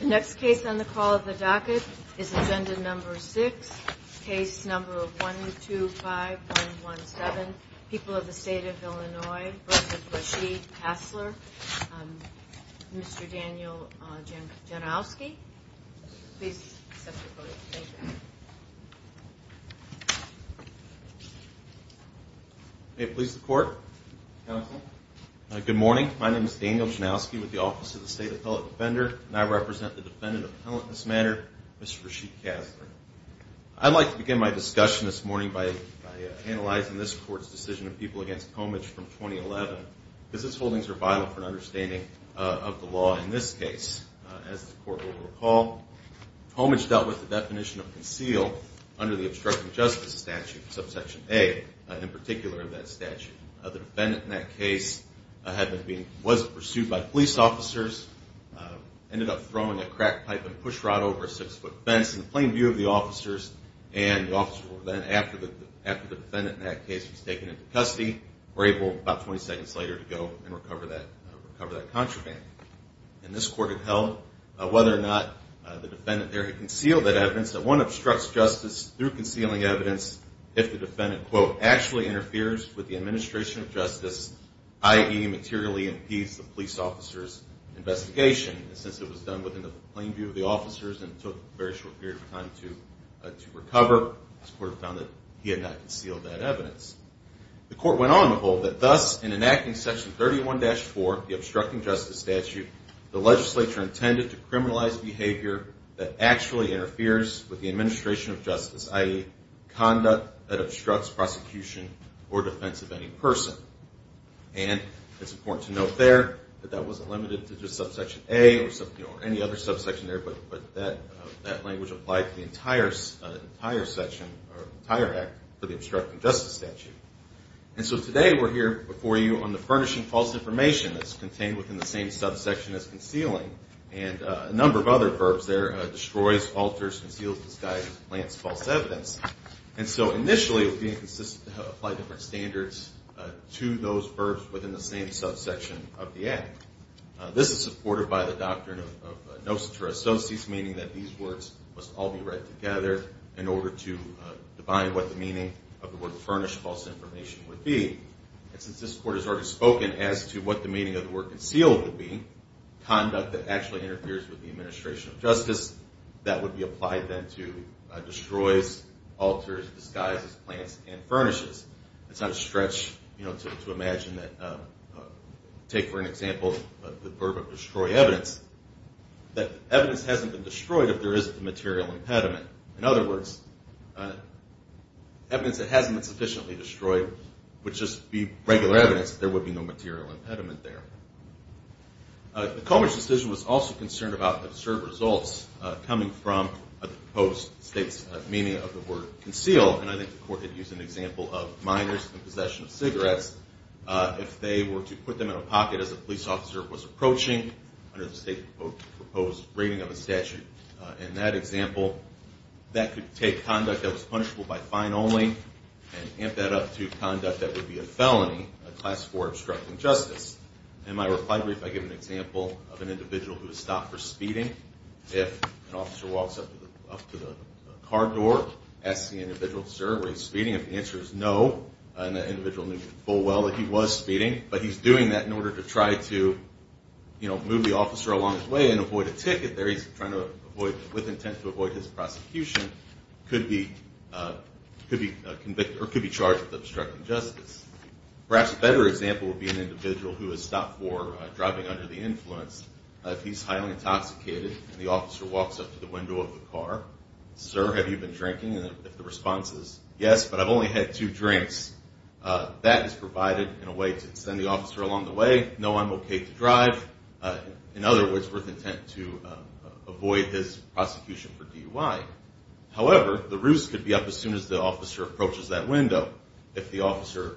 The next case on the call of the docket is Agenda No. 6, Case No. 125117, People of the State of Illinois v. Rasheed Casler, Mr. Daniel Janowski. Mr. Casler. Good morning. My name is Daniel Janowski with the Office of the State Appellate Defender, and I represent the defendant in this matter, Mr. Rasheed Casler. I'd like to begin my discussion this morning by analyzing this Court's decision of people against Pomich from 2011, because its holdings are vital for an understanding of the law in this case. As the Court will recall, Pomich dealt with the definition of conceal under the obstruction of justice statute, subsection A, in particular of that statute. The defendant in that case was pursued by police officers, ended up throwing a crack pipe and pushrod over a six-foot fence in the plain view of the officers. And the officers were then, after the defendant in that case was taken into custody, were able about 20 seconds later to go and recover that contraband. And this Court had held, whether or not the defendant there had concealed that evidence, that one obstructs justice through concealing evidence if the defendant, quote, actually interferes with the administration of justice, i.e., materially impedes the police officer's investigation. And since it was done within the plain view of the officers and took a very short period of time to recover, this Court found that he had not concealed that evidence. The Court went on to hold that, thus, in enacting section 31-4, the obstructing justice statute, the legislature intended to criminalize behavior that actually interferes with the administration of justice, i.e., conduct that obstructs prosecution or defense of any person. And it's important to note there that that wasn't limited to just subsection A or any other subsection there, but that language applied to the entire section or entire act for the obstructing justice statute. And so today we're here before you on the furnishing false information that's contained within the same subsection as concealing. And a number of other verbs there, destroys, alters, conceals, disguises, plants false evidence. And so initially it was being consistent to apply different standards to those verbs within the same subsection of the act. This is supported by the doctrine of nocetur associates, meaning that these words must all be read together in order to define what the meaning of the word furnish false information would be. And since this Court has already spoken as to what the meaning of the word conceal would be, conduct that actually interferes with the administration of justice, that would be applied then to destroys, alters, disguises, plants, and furnishes. It's not a stretch to imagine that, take for an example the verb of destroy evidence, that evidence hasn't been destroyed if there isn't a material impediment. In other words, evidence that hasn't been sufficiently destroyed would just be regular evidence that there would be no material impediment there. The Comer's decision was also concerned about absurd results coming from a proposed state's meaning of the word conceal. And I think the Court had used an example of minors in possession of cigarettes. If they were to put them in a pocket as a police officer was approaching under the state-proposed rating of a statute in that example, that could take conduct that was punishable by fine only and amp that up to conduct that would be a felony, a class 4 obstructing justice. In my reply brief, I give an example of an individual who was stopped for speeding. If an officer walks up to the car door, asks the individual, sir, were you speeding? If the answer is no, and the individual knew full well that he was speeding, but he's doing that in order to try to move the officer along his way and avoid a ticket there. He's trying to avoid, with intent to avoid his prosecution, could be charged with obstructing justice. Perhaps a better example would be an individual who was stopped for driving under the influence. If he's highly intoxicated and the officer walks up to the window of the car, sir, have you been drinking? And if the response is yes, but I've only had two drinks, that is provided in a way to send the officer along the way. No, I'm okay to drive. In other words, with intent to avoid his prosecution for DUI. However, the ruse could be up as soon as the officer approaches that window. If the officer's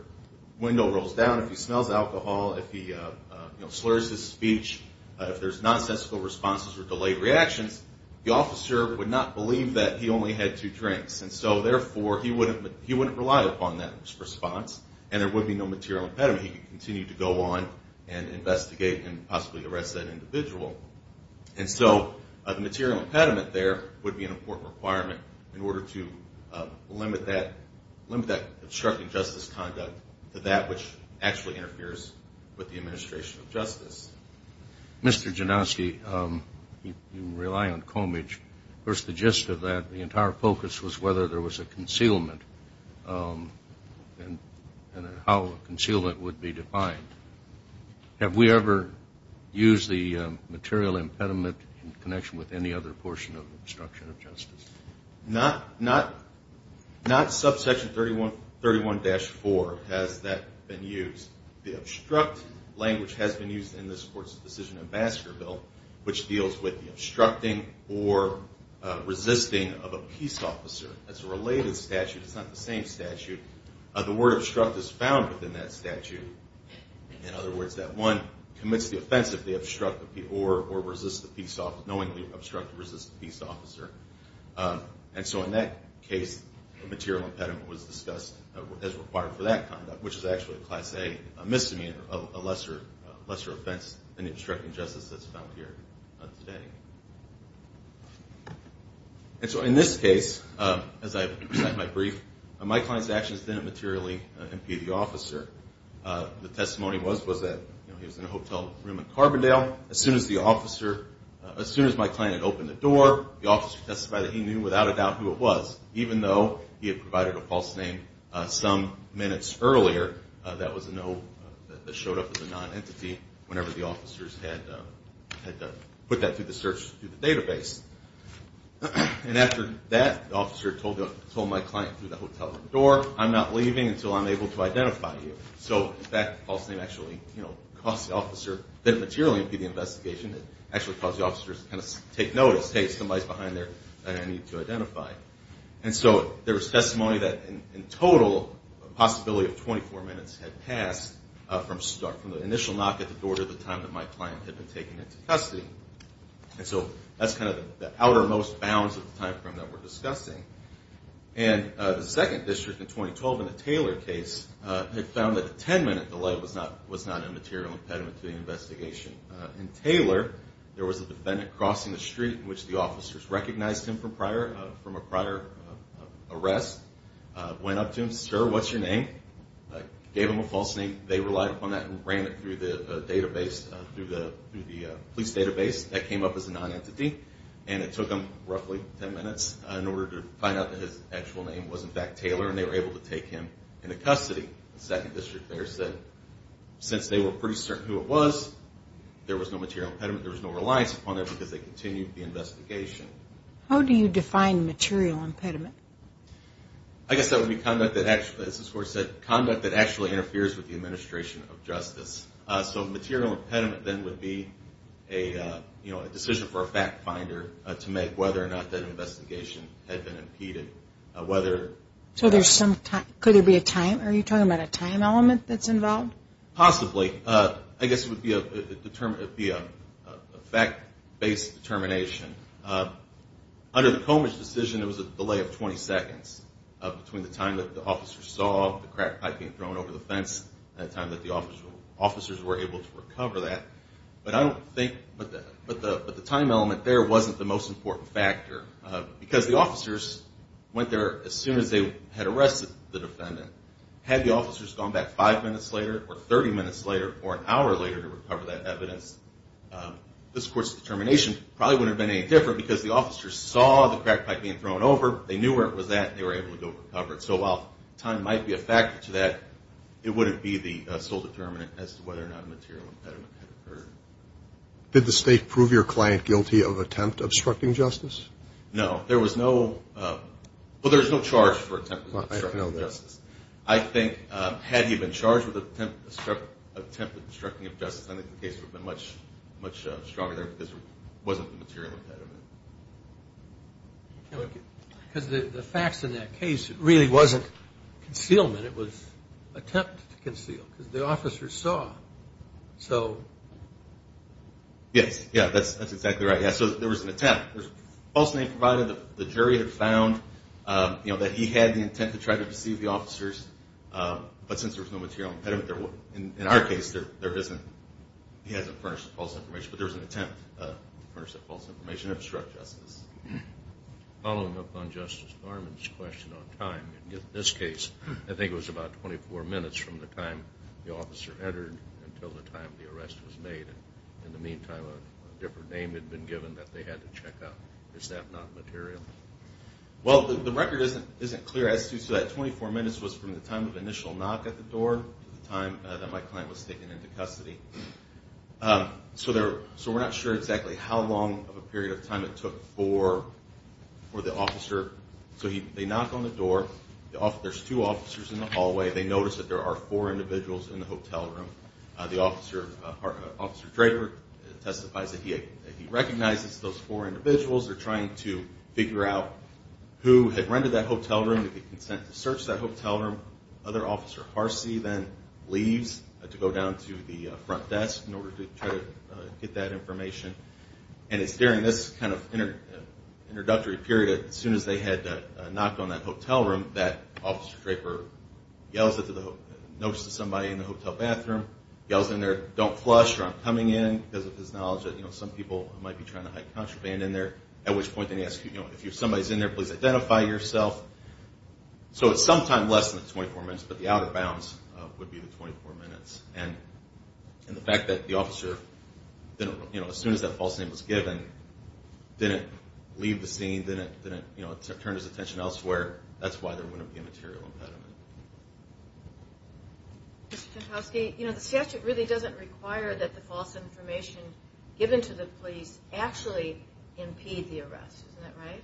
window rolls down, if he smells alcohol, if he slurs his speech, if there's nonsensical responses or delayed reactions, the officer would not believe that he only had two drinks. And so therefore, he wouldn't rely upon that response and there would be no material impediment. He could continue to go on and investigate and possibly arrest that individual. And so the material impediment there would be an important requirement in order to limit that obstructing justice conduct to that which actually interferes with the administration of justice. Mr. Janoski, you rely on Comidge. Of course, the gist of that, the entire focus was whether there was a concealment and how a concealment would be defined. Have we ever used the material impediment in connection with any other portion of obstruction of justice? Not subsection 31-4 has that been used. The obstruct language has been used in this Court's decision in Baskerville, which deals with the obstructing or resisting of a peace officer. That's a related statute. It's not the same statute. The word obstruct is found within that statute. In other words, that one commits the offense if they obstruct or resist the peace officer, knowingly obstruct or resist the peace officer. And so in that case, the material impediment was discussed as required for that conduct, which is actually a class A misdemeanor, a lesser offense than obstructing justice that's found here today. And so in this case, as I present my brief, my client's actions didn't materially impede the officer. The testimony was that he was in a hotel room in Carbondale. As soon as my client had opened the door, the officer testified that he knew without a doubt who it was, even though he had provided a false name some minutes earlier that showed up as a nonentity whenever the officers had put that through the search through the database. And after that, the officer told my client through the hotel room door, I'm not leaving until I'm able to identify you. So in fact, the false name actually caused the officer, didn't materially impede the investigation. It actually caused the officers to kind of take notice, hey, somebody's behind there that I need to identify. And so there was testimony that in total, a possibility of 24 minutes had passed from the initial knock at the door to the time that my client had been taken into custody. And so that's kind of the outermost bounds of the time frame that we're discussing. And the second district in 2012 in the Taylor case had found that a 10-minute delay was not a material impediment to the investigation. In Taylor, there was a defendant crossing the street in which the officers recognized him from a prior arrest, went up to him, sir, what's your name? Gave him a false name. They relied upon that and ran it through the database, through the police database. That came up as a nonentity. And it took them roughly 10 minutes in order to find out that his actual name was in fact Taylor, and they were able to take him into custody. The second district there said since they were pretty certain who it was, there was no material impediment, there was no reliance upon it because they continued the investigation. How do you define material impediment? I guess that would be conduct that actually interferes with the administration of justice. So material impediment then would be a decision for a fact finder to make whether or not that investigation had been impeded. Could there be a time? Are you talking about a time element that's involved? Possibly. I guess it would be a fact-based determination. Under the Comidge decision, it was a delay of 20 seconds between the time that the officers saw the crack pipe being thrown over the fence and the time that the officers were able to recover that. But I don't think the time element there wasn't the most important factor because the officers went there as soon as they had arrested the defendant. Had the officers gone back five minutes later or 30 minutes later or an hour later to recover that evidence, this court's determination probably wouldn't have been any different because the officers saw the crack pipe being thrown over, they knew where it was at, and they were able to go recover it. So while time might be a factor to that, it wouldn't be the sole determinant as to whether or not a material impediment had occurred. Did the state prove your client guilty of attempt obstructing justice? No. There was no charge for attempt obstructing justice. I think had he been charged with attempt obstructing of justice, I think the case would have been much stronger there because there wasn't the material impediment. Because the facts in that case really wasn't concealment. It was attempt to conceal because the officers saw. Yes. That's exactly right. So there was an attempt. False name provided, the jury had found that he had the intent to try to deceive the officers, but since there was no material impediment, in our case, there isn't. He hasn't furnished the false information, but there was an attempt to furnish that false information and obstruct justice. Following up on Justice Norman's question on time, in this case, I think it was about 24 minutes from the time the officer entered until the time the arrest was made. In the meantime, a different name had been given that they had to check out. Is that not material? Well, the record isn't clear. So that 24 minutes was from the time of initial knock at the door to the time that my client was taken into custody. So we're not sure exactly how long of a period of time it took for the officer. So they knock on the door. There's two officers in the hallway. They notice that there are four individuals in the hotel room. Officer Draper testifies that he recognizes those four individuals. They're trying to figure out who had rented that hotel room. They get consent to search that hotel room. Other officer Harcy then leaves to go down to the front desk in order to try to get that information. And it's during this kind of introductory period, as soon as they had knocked on that hotel room, that Officer Draper notes to somebody in the hotel bathroom, yells in there, don't flush or I'm coming in, because of his knowledge that some people might be trying to hide contraband in there, at which point they ask, if somebody's in there, please identify yourself. So it's sometime less than 24 minutes, but the outer bounds would be the 24 minutes. And the fact that the officer, as soon as that false name was given, didn't leave the scene, didn't turn his attention elsewhere, that's why there wouldn't be a material impediment. The statute really doesn't require that the false information given to the police actually impede the arrest, isn't that right?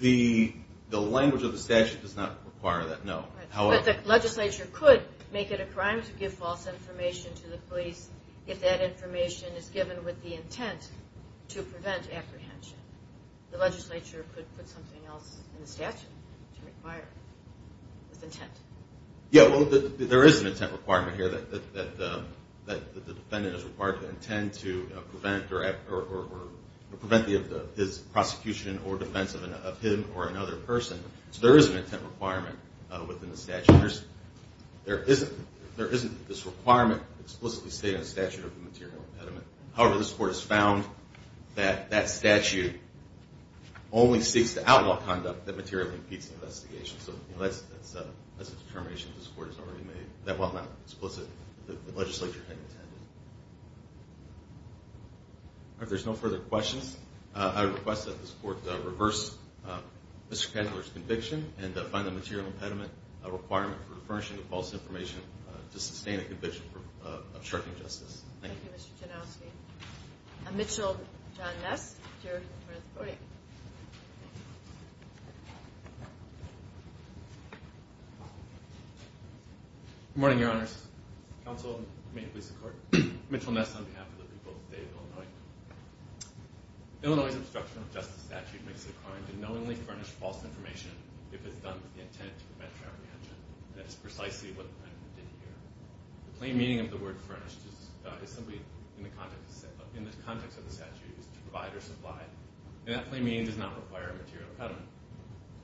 The language of the statute does not require that, no. But the legislature could make it a crime to give false information to the police if that information is given with the intent to prevent apprehension. The legislature could put something else in the statute to require it, with intent. Yeah, well, there is an intent requirement here that the defendant is required to defend his prosecution or defense of him or another person. So there is an intent requirement within the statute. There isn't this requirement explicitly stated in the statute of the material impediment. However, this Court has found that that statute only seeks to outlaw conduct that materially impedes investigation. So that's a determination this Court has already made, that while not explicit, the legislature had intended. If there's no further questions, I request that this Court reverse Mr. Pendler's conviction and find the material impediment a requirement for refurnishing the false information to sustain a conviction for obstructing justice. Thank you. Thank you, Mr. Janowski. Mitchell John Ness. Good morning, Your Honors. Counsel, may it please the Court. Mitchell Ness on behalf of the people of the State of Illinois. Illinois' obstruction of justice statute makes it a crime to knowingly furnish false information if it's done with the intent to prevent traffic action. That is precisely what the defendant did here. The plain meaning of the word furnished is simply in the context of the statute, to provide or supply. And that plain meaning does not require a material impediment.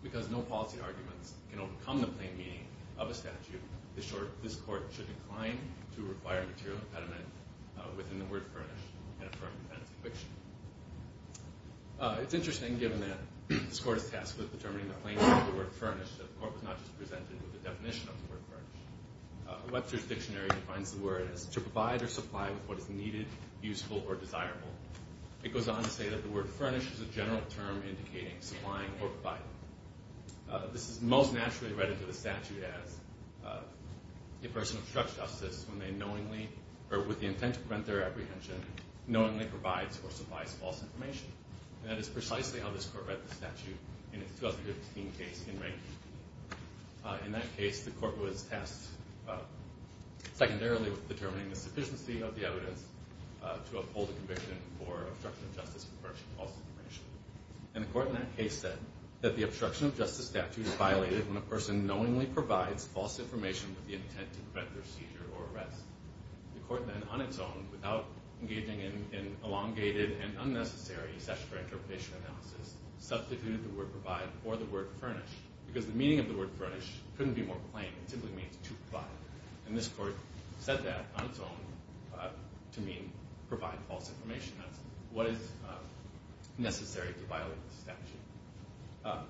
Because no policy arguments can overcome the plain meaning of a statute, this Court should incline to require a material impediment within the word furnished and affirm the defendant's conviction. It's interesting, given that this Court is tasked with determining the plain meaning of the word furnished, that the Court was not just presented with the definition of the word furnished. Webster's Dictionary defines the word as to provide or supply with what is needed, useful, or desirable. It goes on to say that the word furnished is a general term indicating supplying or providing. This is most naturally read into the statute as a person obstructs justice when they knowingly, or with the intent to prevent their apprehension, knowingly provides or supplies false information. And that is precisely how this Court read the statute in its 2015 case in Rankine. In that case, the Court was tasked secondarily with determining the sufficiency of the evidence to uphold a conviction for obstruction of justice and furnishing false information. And the Court in that case said that the obstruction of justice statute is violated when a person knowingly provides false information with the intent to prevent their seizure or arrest. The Court then, on its own, without engaging in an elongated and unnecessary session for interpretation analysis, substituted the word provide for the word furnished, because the meaning of the word furnished couldn't be more plain. It simply means to provide. And this Court said that on its own to mean provide false information. That's what is necessary to violate the statute.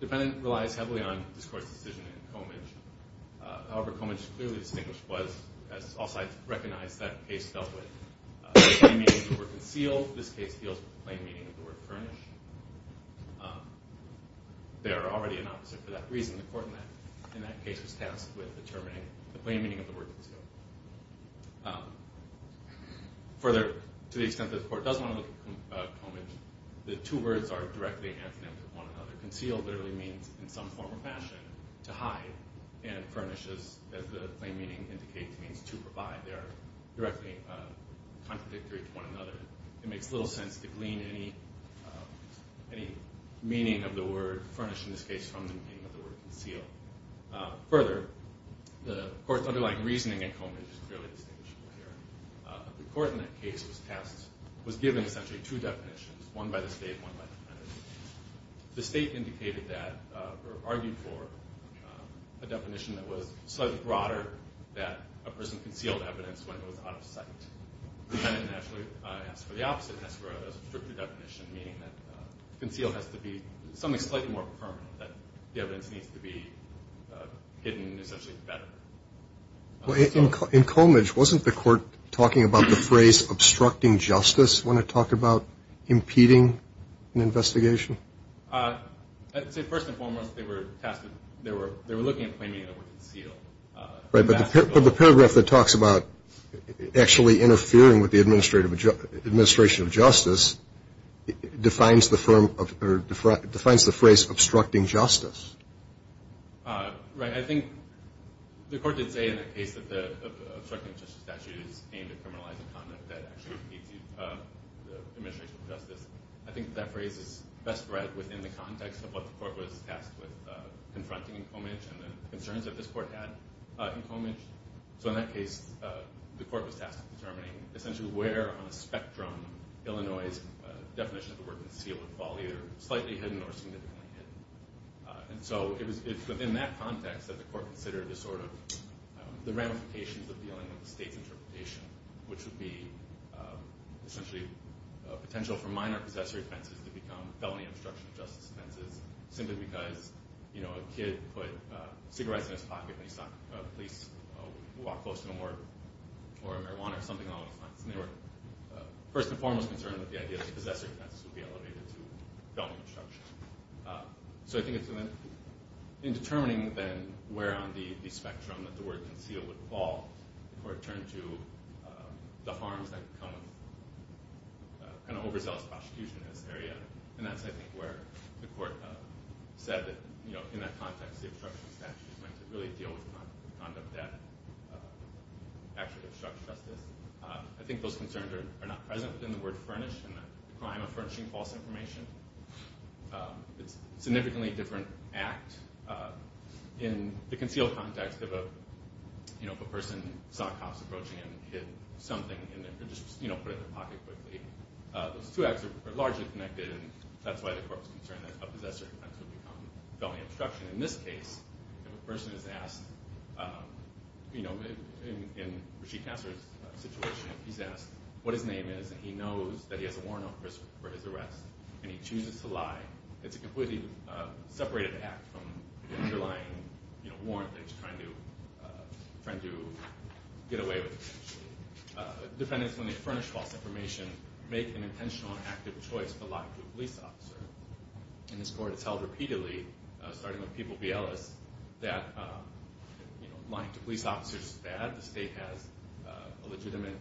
The defendant relies heavily on this Court's decision in Comidge. However, Comidge clearly distinguished was, as all sides recognize, that case dealt with the plain meaning of the word concealed. This case deals with the plain meaning of the word furnished. They are already an opposite for that reason. The Court in that case was tasked with determining the plain meaning of the word concealed. Further, to the extent that the Court doesn't want to look at Comidge, the two words are directly antonyms of one another. Concealed literally means, in some form or fashion, to hide. And furnished, as the plain meaning indicates, means to provide. They are directly contradictory to one another. It makes little sense to glean any meaning of the word furnished in this case from the meaning of the word concealed. Further, the Court's underlying reasoning in Comidge is clearly distinguishable here. The Court in that case was tasked, was given essentially two definitions, one by the State and one by the defendant. The State indicated that, or argued for, a definition that was slightly broader, that a person concealed evidence when it was out of sight. The defendant actually asked for the opposite and asked for a stricter definition, meaning that concealed has to be something slightly more permanent, that the evidence needs to be a little bit more permanent. I'm not sure if you want to talk about the phrase obstructing justice. Want to talk about impeding an investigation? I'd say, first and foremost, they were tasked with, they were looking at plain meaning of the word concealed. But the paragraph that talks about actually interfering with the administration of justice defines the phrase obstructing justice. Right. I think the Court did say in that case that the obstructing justice statute is aimed at criminalizing conduct that actually impedes the administration of justice. I think that phrase is best read within the context of what the Court was tasked with confronting in Comidge and the concerns that this Court had in Comidge. So in that case, the Court was tasked with determining essentially where on a spectrum Illinois' definition of the word concealed would fall, either slightly hidden or significantly hidden. So it's within that context that the Court considered the ramifications of dealing with the state's interpretation, which would be essentially a potential for minor possessory offenses to become felony obstruction of justice offenses, simply because a kid put cigarettes in his pocket when he saw a police walk close to him or marijuana or something along those lines. They were first and foremost concerned that the idea of possessory offenses would be elevated to felony obstruction. In determining then where on the spectrum that the word concealed would fall, the Court turned to the harms that come with overzealous prosecution in this area. And that's, I think, where the Court said that in that context the obstruction statute is meant to really deal with conduct that actually obstructs justice. I think those concerns are not present within the word furnish and the crime of furnishing false information. It's a significantly different act in the concealed context of a person who saw cops approaching and hit something in their, or just put it in their pocket quickly. Those two acts are largely connected, and that's why the Court was concerned that a possessory offense would become felony obstruction. In this case, if a person is asked, in Rasheed Kasser's situation, he's asked what his name is, and he knows that he has a warrant for his arrest, and he chooses to lie, it's a completely separated act from the underlying warrant that he's trying to get away with potentially. Defendants, when they furnish false information, make an intentional and active choice to lie to a police officer. In this Court, it's held repeatedly, starting with People v. Ellis, that lying to police officers is bad, the state has a legitimate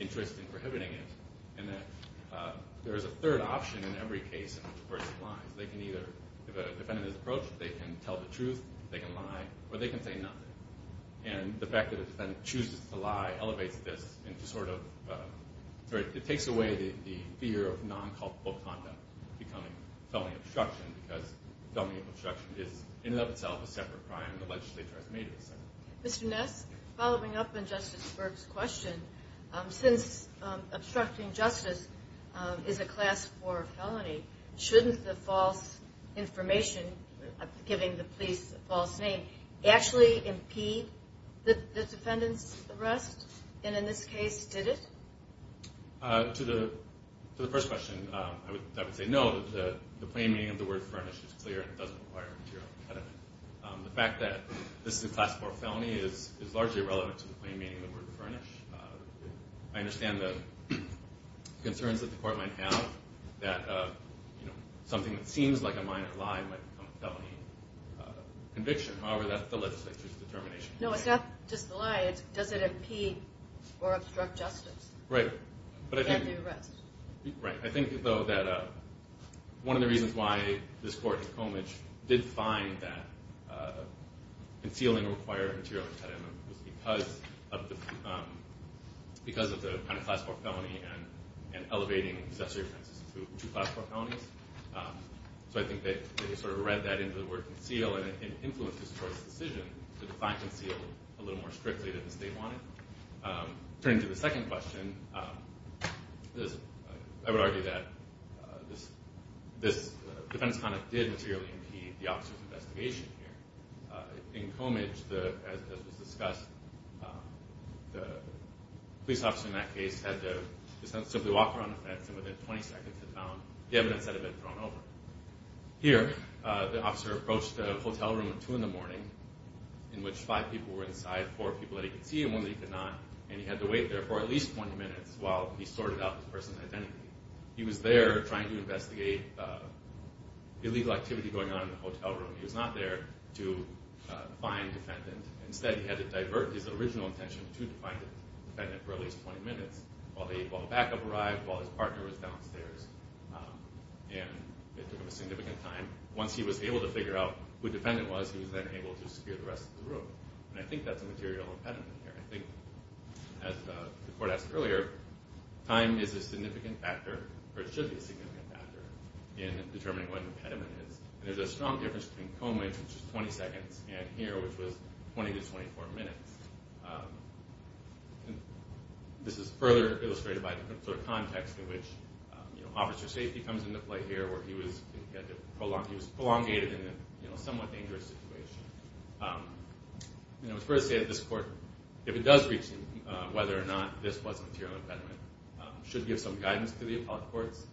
interest in prohibiting it. And that there is a third option in every case in which a person lies. They can either defend in this approach, they can tell the truth, they can lie, or they can say nothing. And the fact that a defendant chooses to lie elevates this into sort of, it takes away the fear of non-culpable conduct becoming felony obstruction, because felony obstruction is in and of itself a separate crime, the legislature has made it a separate crime. Mr. Ness, following up on Justice Berg's question, since obstructing justice is a Class 4 felony, shouldn't the false information, giving the police a false name, actually impede the defendant's arrest? And in this case, did it? To the first question, I would say no. The plain meaning of the word furnish is clear and doesn't require material impediment. The fact that this is a Class 4 felony is largely irrelevant to the plain meaning of the word furnish. I understand the concerns that the court might have, that something that seems like a minor lie might become a felony conviction. However, that's the legislature's determination. No, it's not just the lie, it's does it impede or obstruct justice? Right. I think, though, that one of the reasons why this court in Colmage did find that concealing required material impediment was because of the Class 4 felony and elevating accessory offenses to Class 4 felonies. So I think they read that into the word conceal and it influenced this court's decision to define conceal a little more strictly than the state wanted. Turning to the second question, I would argue that this Colmage, as was discussed, the police officer in that case had to simply walk around the fence and within 20 seconds had found the evidence that had been thrown over. Here, the officer approached a hotel room at 2 in the morning in which five people were inside, four people that he could see and one that he could not, and he had to wait there for at least 20 minutes while he sorted out the person's identity. He was there trying to investigate illegal activity going on in the hotel room. He was not there to find the defendant. Instead, he had to divert his original intention to find the defendant for at least 20 minutes while backup arrived, while his partner was downstairs, and it took him a significant time. Once he was able to figure out who the defendant was, he was then able to secure the rest of the room. I think that's a material impediment here. I think, as the court asked earlier, time is a significant factor, or it should be a significant factor, in determining what an impediment is. There's a strong difference between Colmage, which is 20 seconds, and here, which was 20 to 24 minutes. This is further illustrated by the context in which officer safety comes into play here, where he was prolongated in a somewhat dangerous situation. It's fair to say that this court, if it does reach whether or not this was a material impediment, should give some guidance to the appellate courts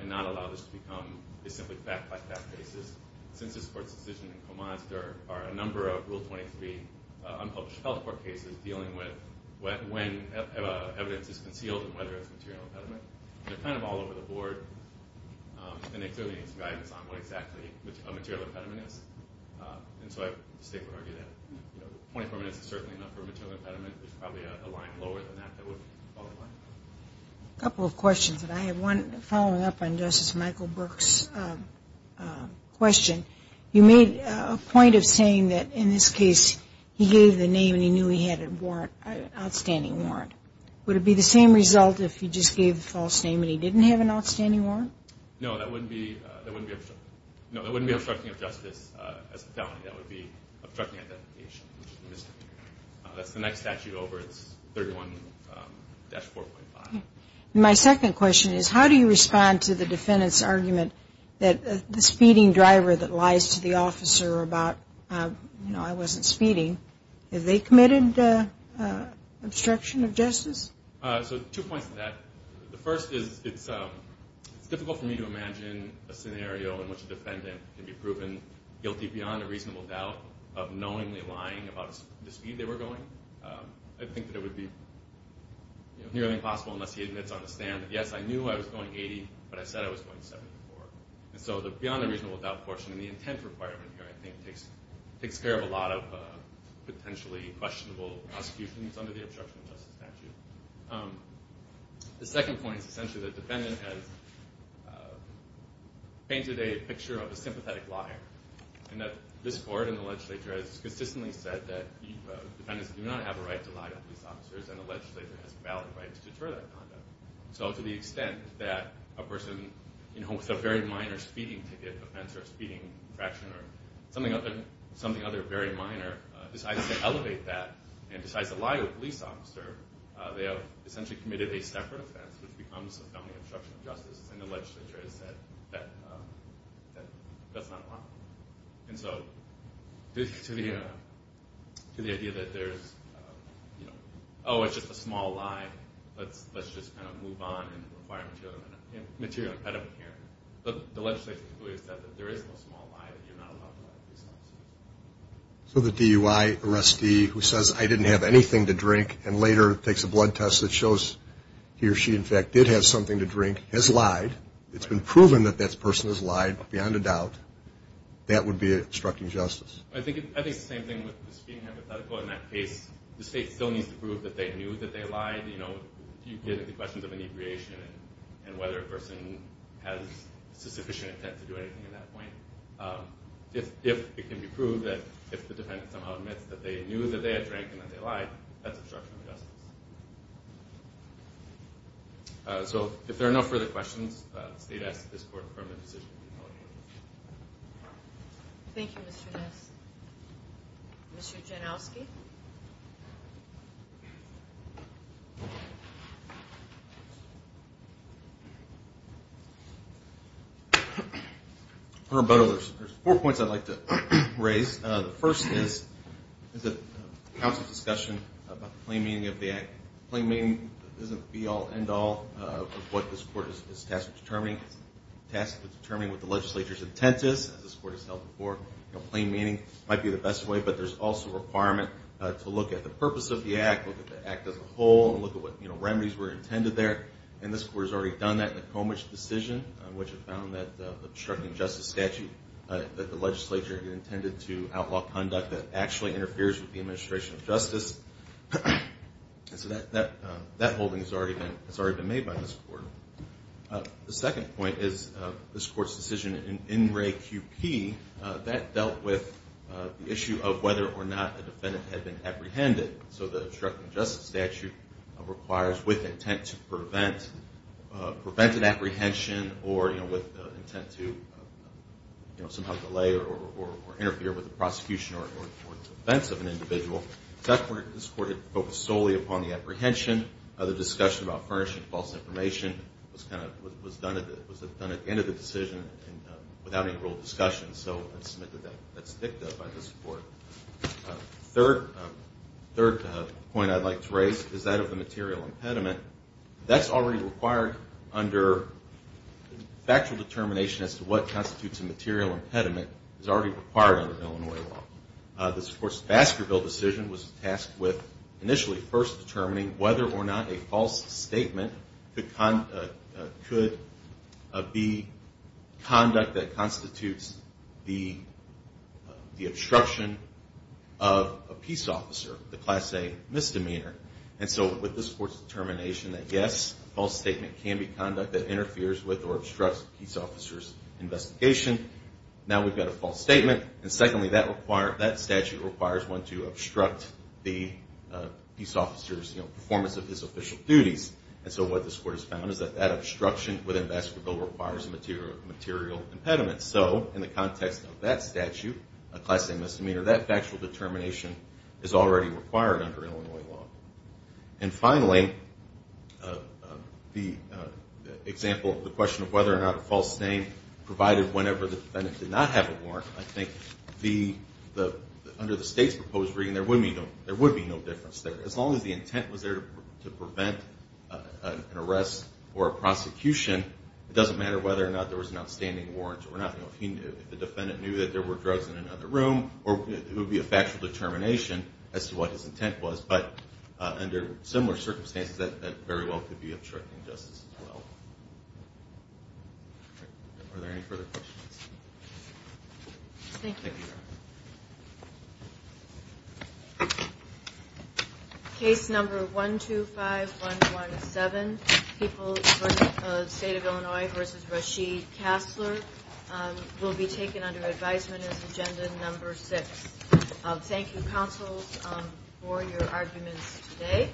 and not allow this to become a simply fact-by-fact basis. Since this court's decision in Colmage, there are a number of Rule 23 unpublished health court cases dealing with when evidence is concealed and whether it's a material impediment. They're kind of all over the board, and they clearly need some guidance on what exactly a material impediment is. So I would argue that 24 minutes is certainly enough for a material impediment. There's probably a line lower than that that would fall in line. A couple of questions, and I have one following up on Justice Michael Burke's question. You made a point of saying that, in this case, he gave the name and he knew he had an outstanding warrant. Would it be the same result if he just gave the false name and he didn't have an outstanding warrant? No, that wouldn't be obstructing of justice as a felony. That would be obstructing identification, which is a misdemeanor. That's the next statute over. It's 31-4.5. My second question is, how do you respond to the defendant's argument that the speeding they committed obstruction of justice? So two points to that. The first is it's difficult for me to imagine a scenario in which a defendant can be proven guilty beyond a reasonable doubt of knowingly lying about the speed they were going. I think that it would be nearly impossible unless he admits on the stand that, yes, I knew I was going 80, but I said I was going 74. And so the beyond a reasonable doubt portion of the intent requirement here, I think, takes care of a lot of potentially questionable prosecutions under the obstruction of justice statute. The second point is essentially the defendant has painted a picture of a sympathetic liar, and that this Court and the legislature has consistently said that defendants do not have a right to lie to police officers, and the legislature has valid rights to deter that conduct. So to the extent that a person with a very minor speeding ticket offense, or a speeding infraction, or something other than very minor, decides to elevate that and decides to lie to a police officer, they have essentially committed a separate offense, which becomes a felony obstruction of justice, and the legislature has said that that's not allowed. And so to the extent that the defendant has a very minor speeding ticket offense, and decides to elevate that and decides to elevate that, they have essentially committed a separate offense, which becomes a felony obstruction of justice, and the legislature has said that that's not allowed. And so to the extent that a person with a very minor speeding ticket offense decides to elevate that and decides to elevate that, they have essentially committed a separate offense, which becomes a felony obstruction of justice. So the DUI arrestee who says, I didn't have anything to drink and later takes a blood test that shows he or she, in fact, did have something to drink, has lied, it's been proven that that person has lied, beyond a doubt, that would be an obstruction of justice. I think it's the same thing with the speeding hypothetical. In that case, the state still needs to prove that they knew that they lied. If you get into questions of inebriation and whether a person has sufficient intent to do anything at that point, if it can be proved that if the defendant somehow admits that they knew that they had drank and that they lied, that's obstruction of justice. So if there are no further questions, the state asks that this court confirm the decision. Thank you, Mr. Ness. Mr. Janowski? There's four points I'd like to raise. The first is the council's discussion about the plain meaning of the act. Plain meaning isn't the be-all, end-all of what this court is tasked with determining. It's tasked with determining what the legislature's intent is, as this court has held before. Plain meaning might be the best way, but there's also a requirement to look at the purpose of the act, look at the act as a whole, and look at what remedies were intended there. And this court has already done that in the Comich decision, which found that the obstructing justice statute that the legislature had intended to outlaw conduct that actually interferes with the administration of justice. So that holding has already been made by this court. The second point is this court's decision in Wray Q.P. That dealt with the issue of whether or not a defendant had been apprehended. So the obstructing justice statute requires with intent to prevent an apprehension or with intent to somehow delay or interfere with the prosecution or defense of an individual. This court had focused solely upon the apprehension. The discussion about furnishing false information was done at the end of the decision without any real discussion. So that's dicta by this court. Third point I'd like to raise is that of the material impediment. That's already required under factual determination as to what constitutes a material impediment. It's already required under Illinois law. This, of course, Baskerville decision was tasked with initially first determining whether or not a false statement could be conduct that constitutes the obstruction of a peace officer, the class A misdemeanor. And so with this court's determination that yes, false statement can be conduct that interferes with or obstructs a peace officer's investigation. Now we've got a false statement. And secondly, that statute requires one to obstruct the peace officer's performance of his official duties. And so what this court has found is that that obstruction within Baskerville requires a material impediment. So in the context of that statute, a class A misdemeanor, that factual determination is already required under Illinois law. And finally, the example of the question of whether or not a false statement provided whenever the intent was there to prevent an arrest or a prosecution, it doesn't matter whether or not there was an outstanding warrant or not. If the defendant knew that there were drugs in another room, it would be a factual determination as to what his intent was. But under similar circumstances, that very well could be obstructing justice as well. Are there any further questions? Thank you. Case number 125117, People of the State of Illinois v. Rasheed Kassler will be taken under advisement as agenda number six. Thank you, counsel, for your arguments today.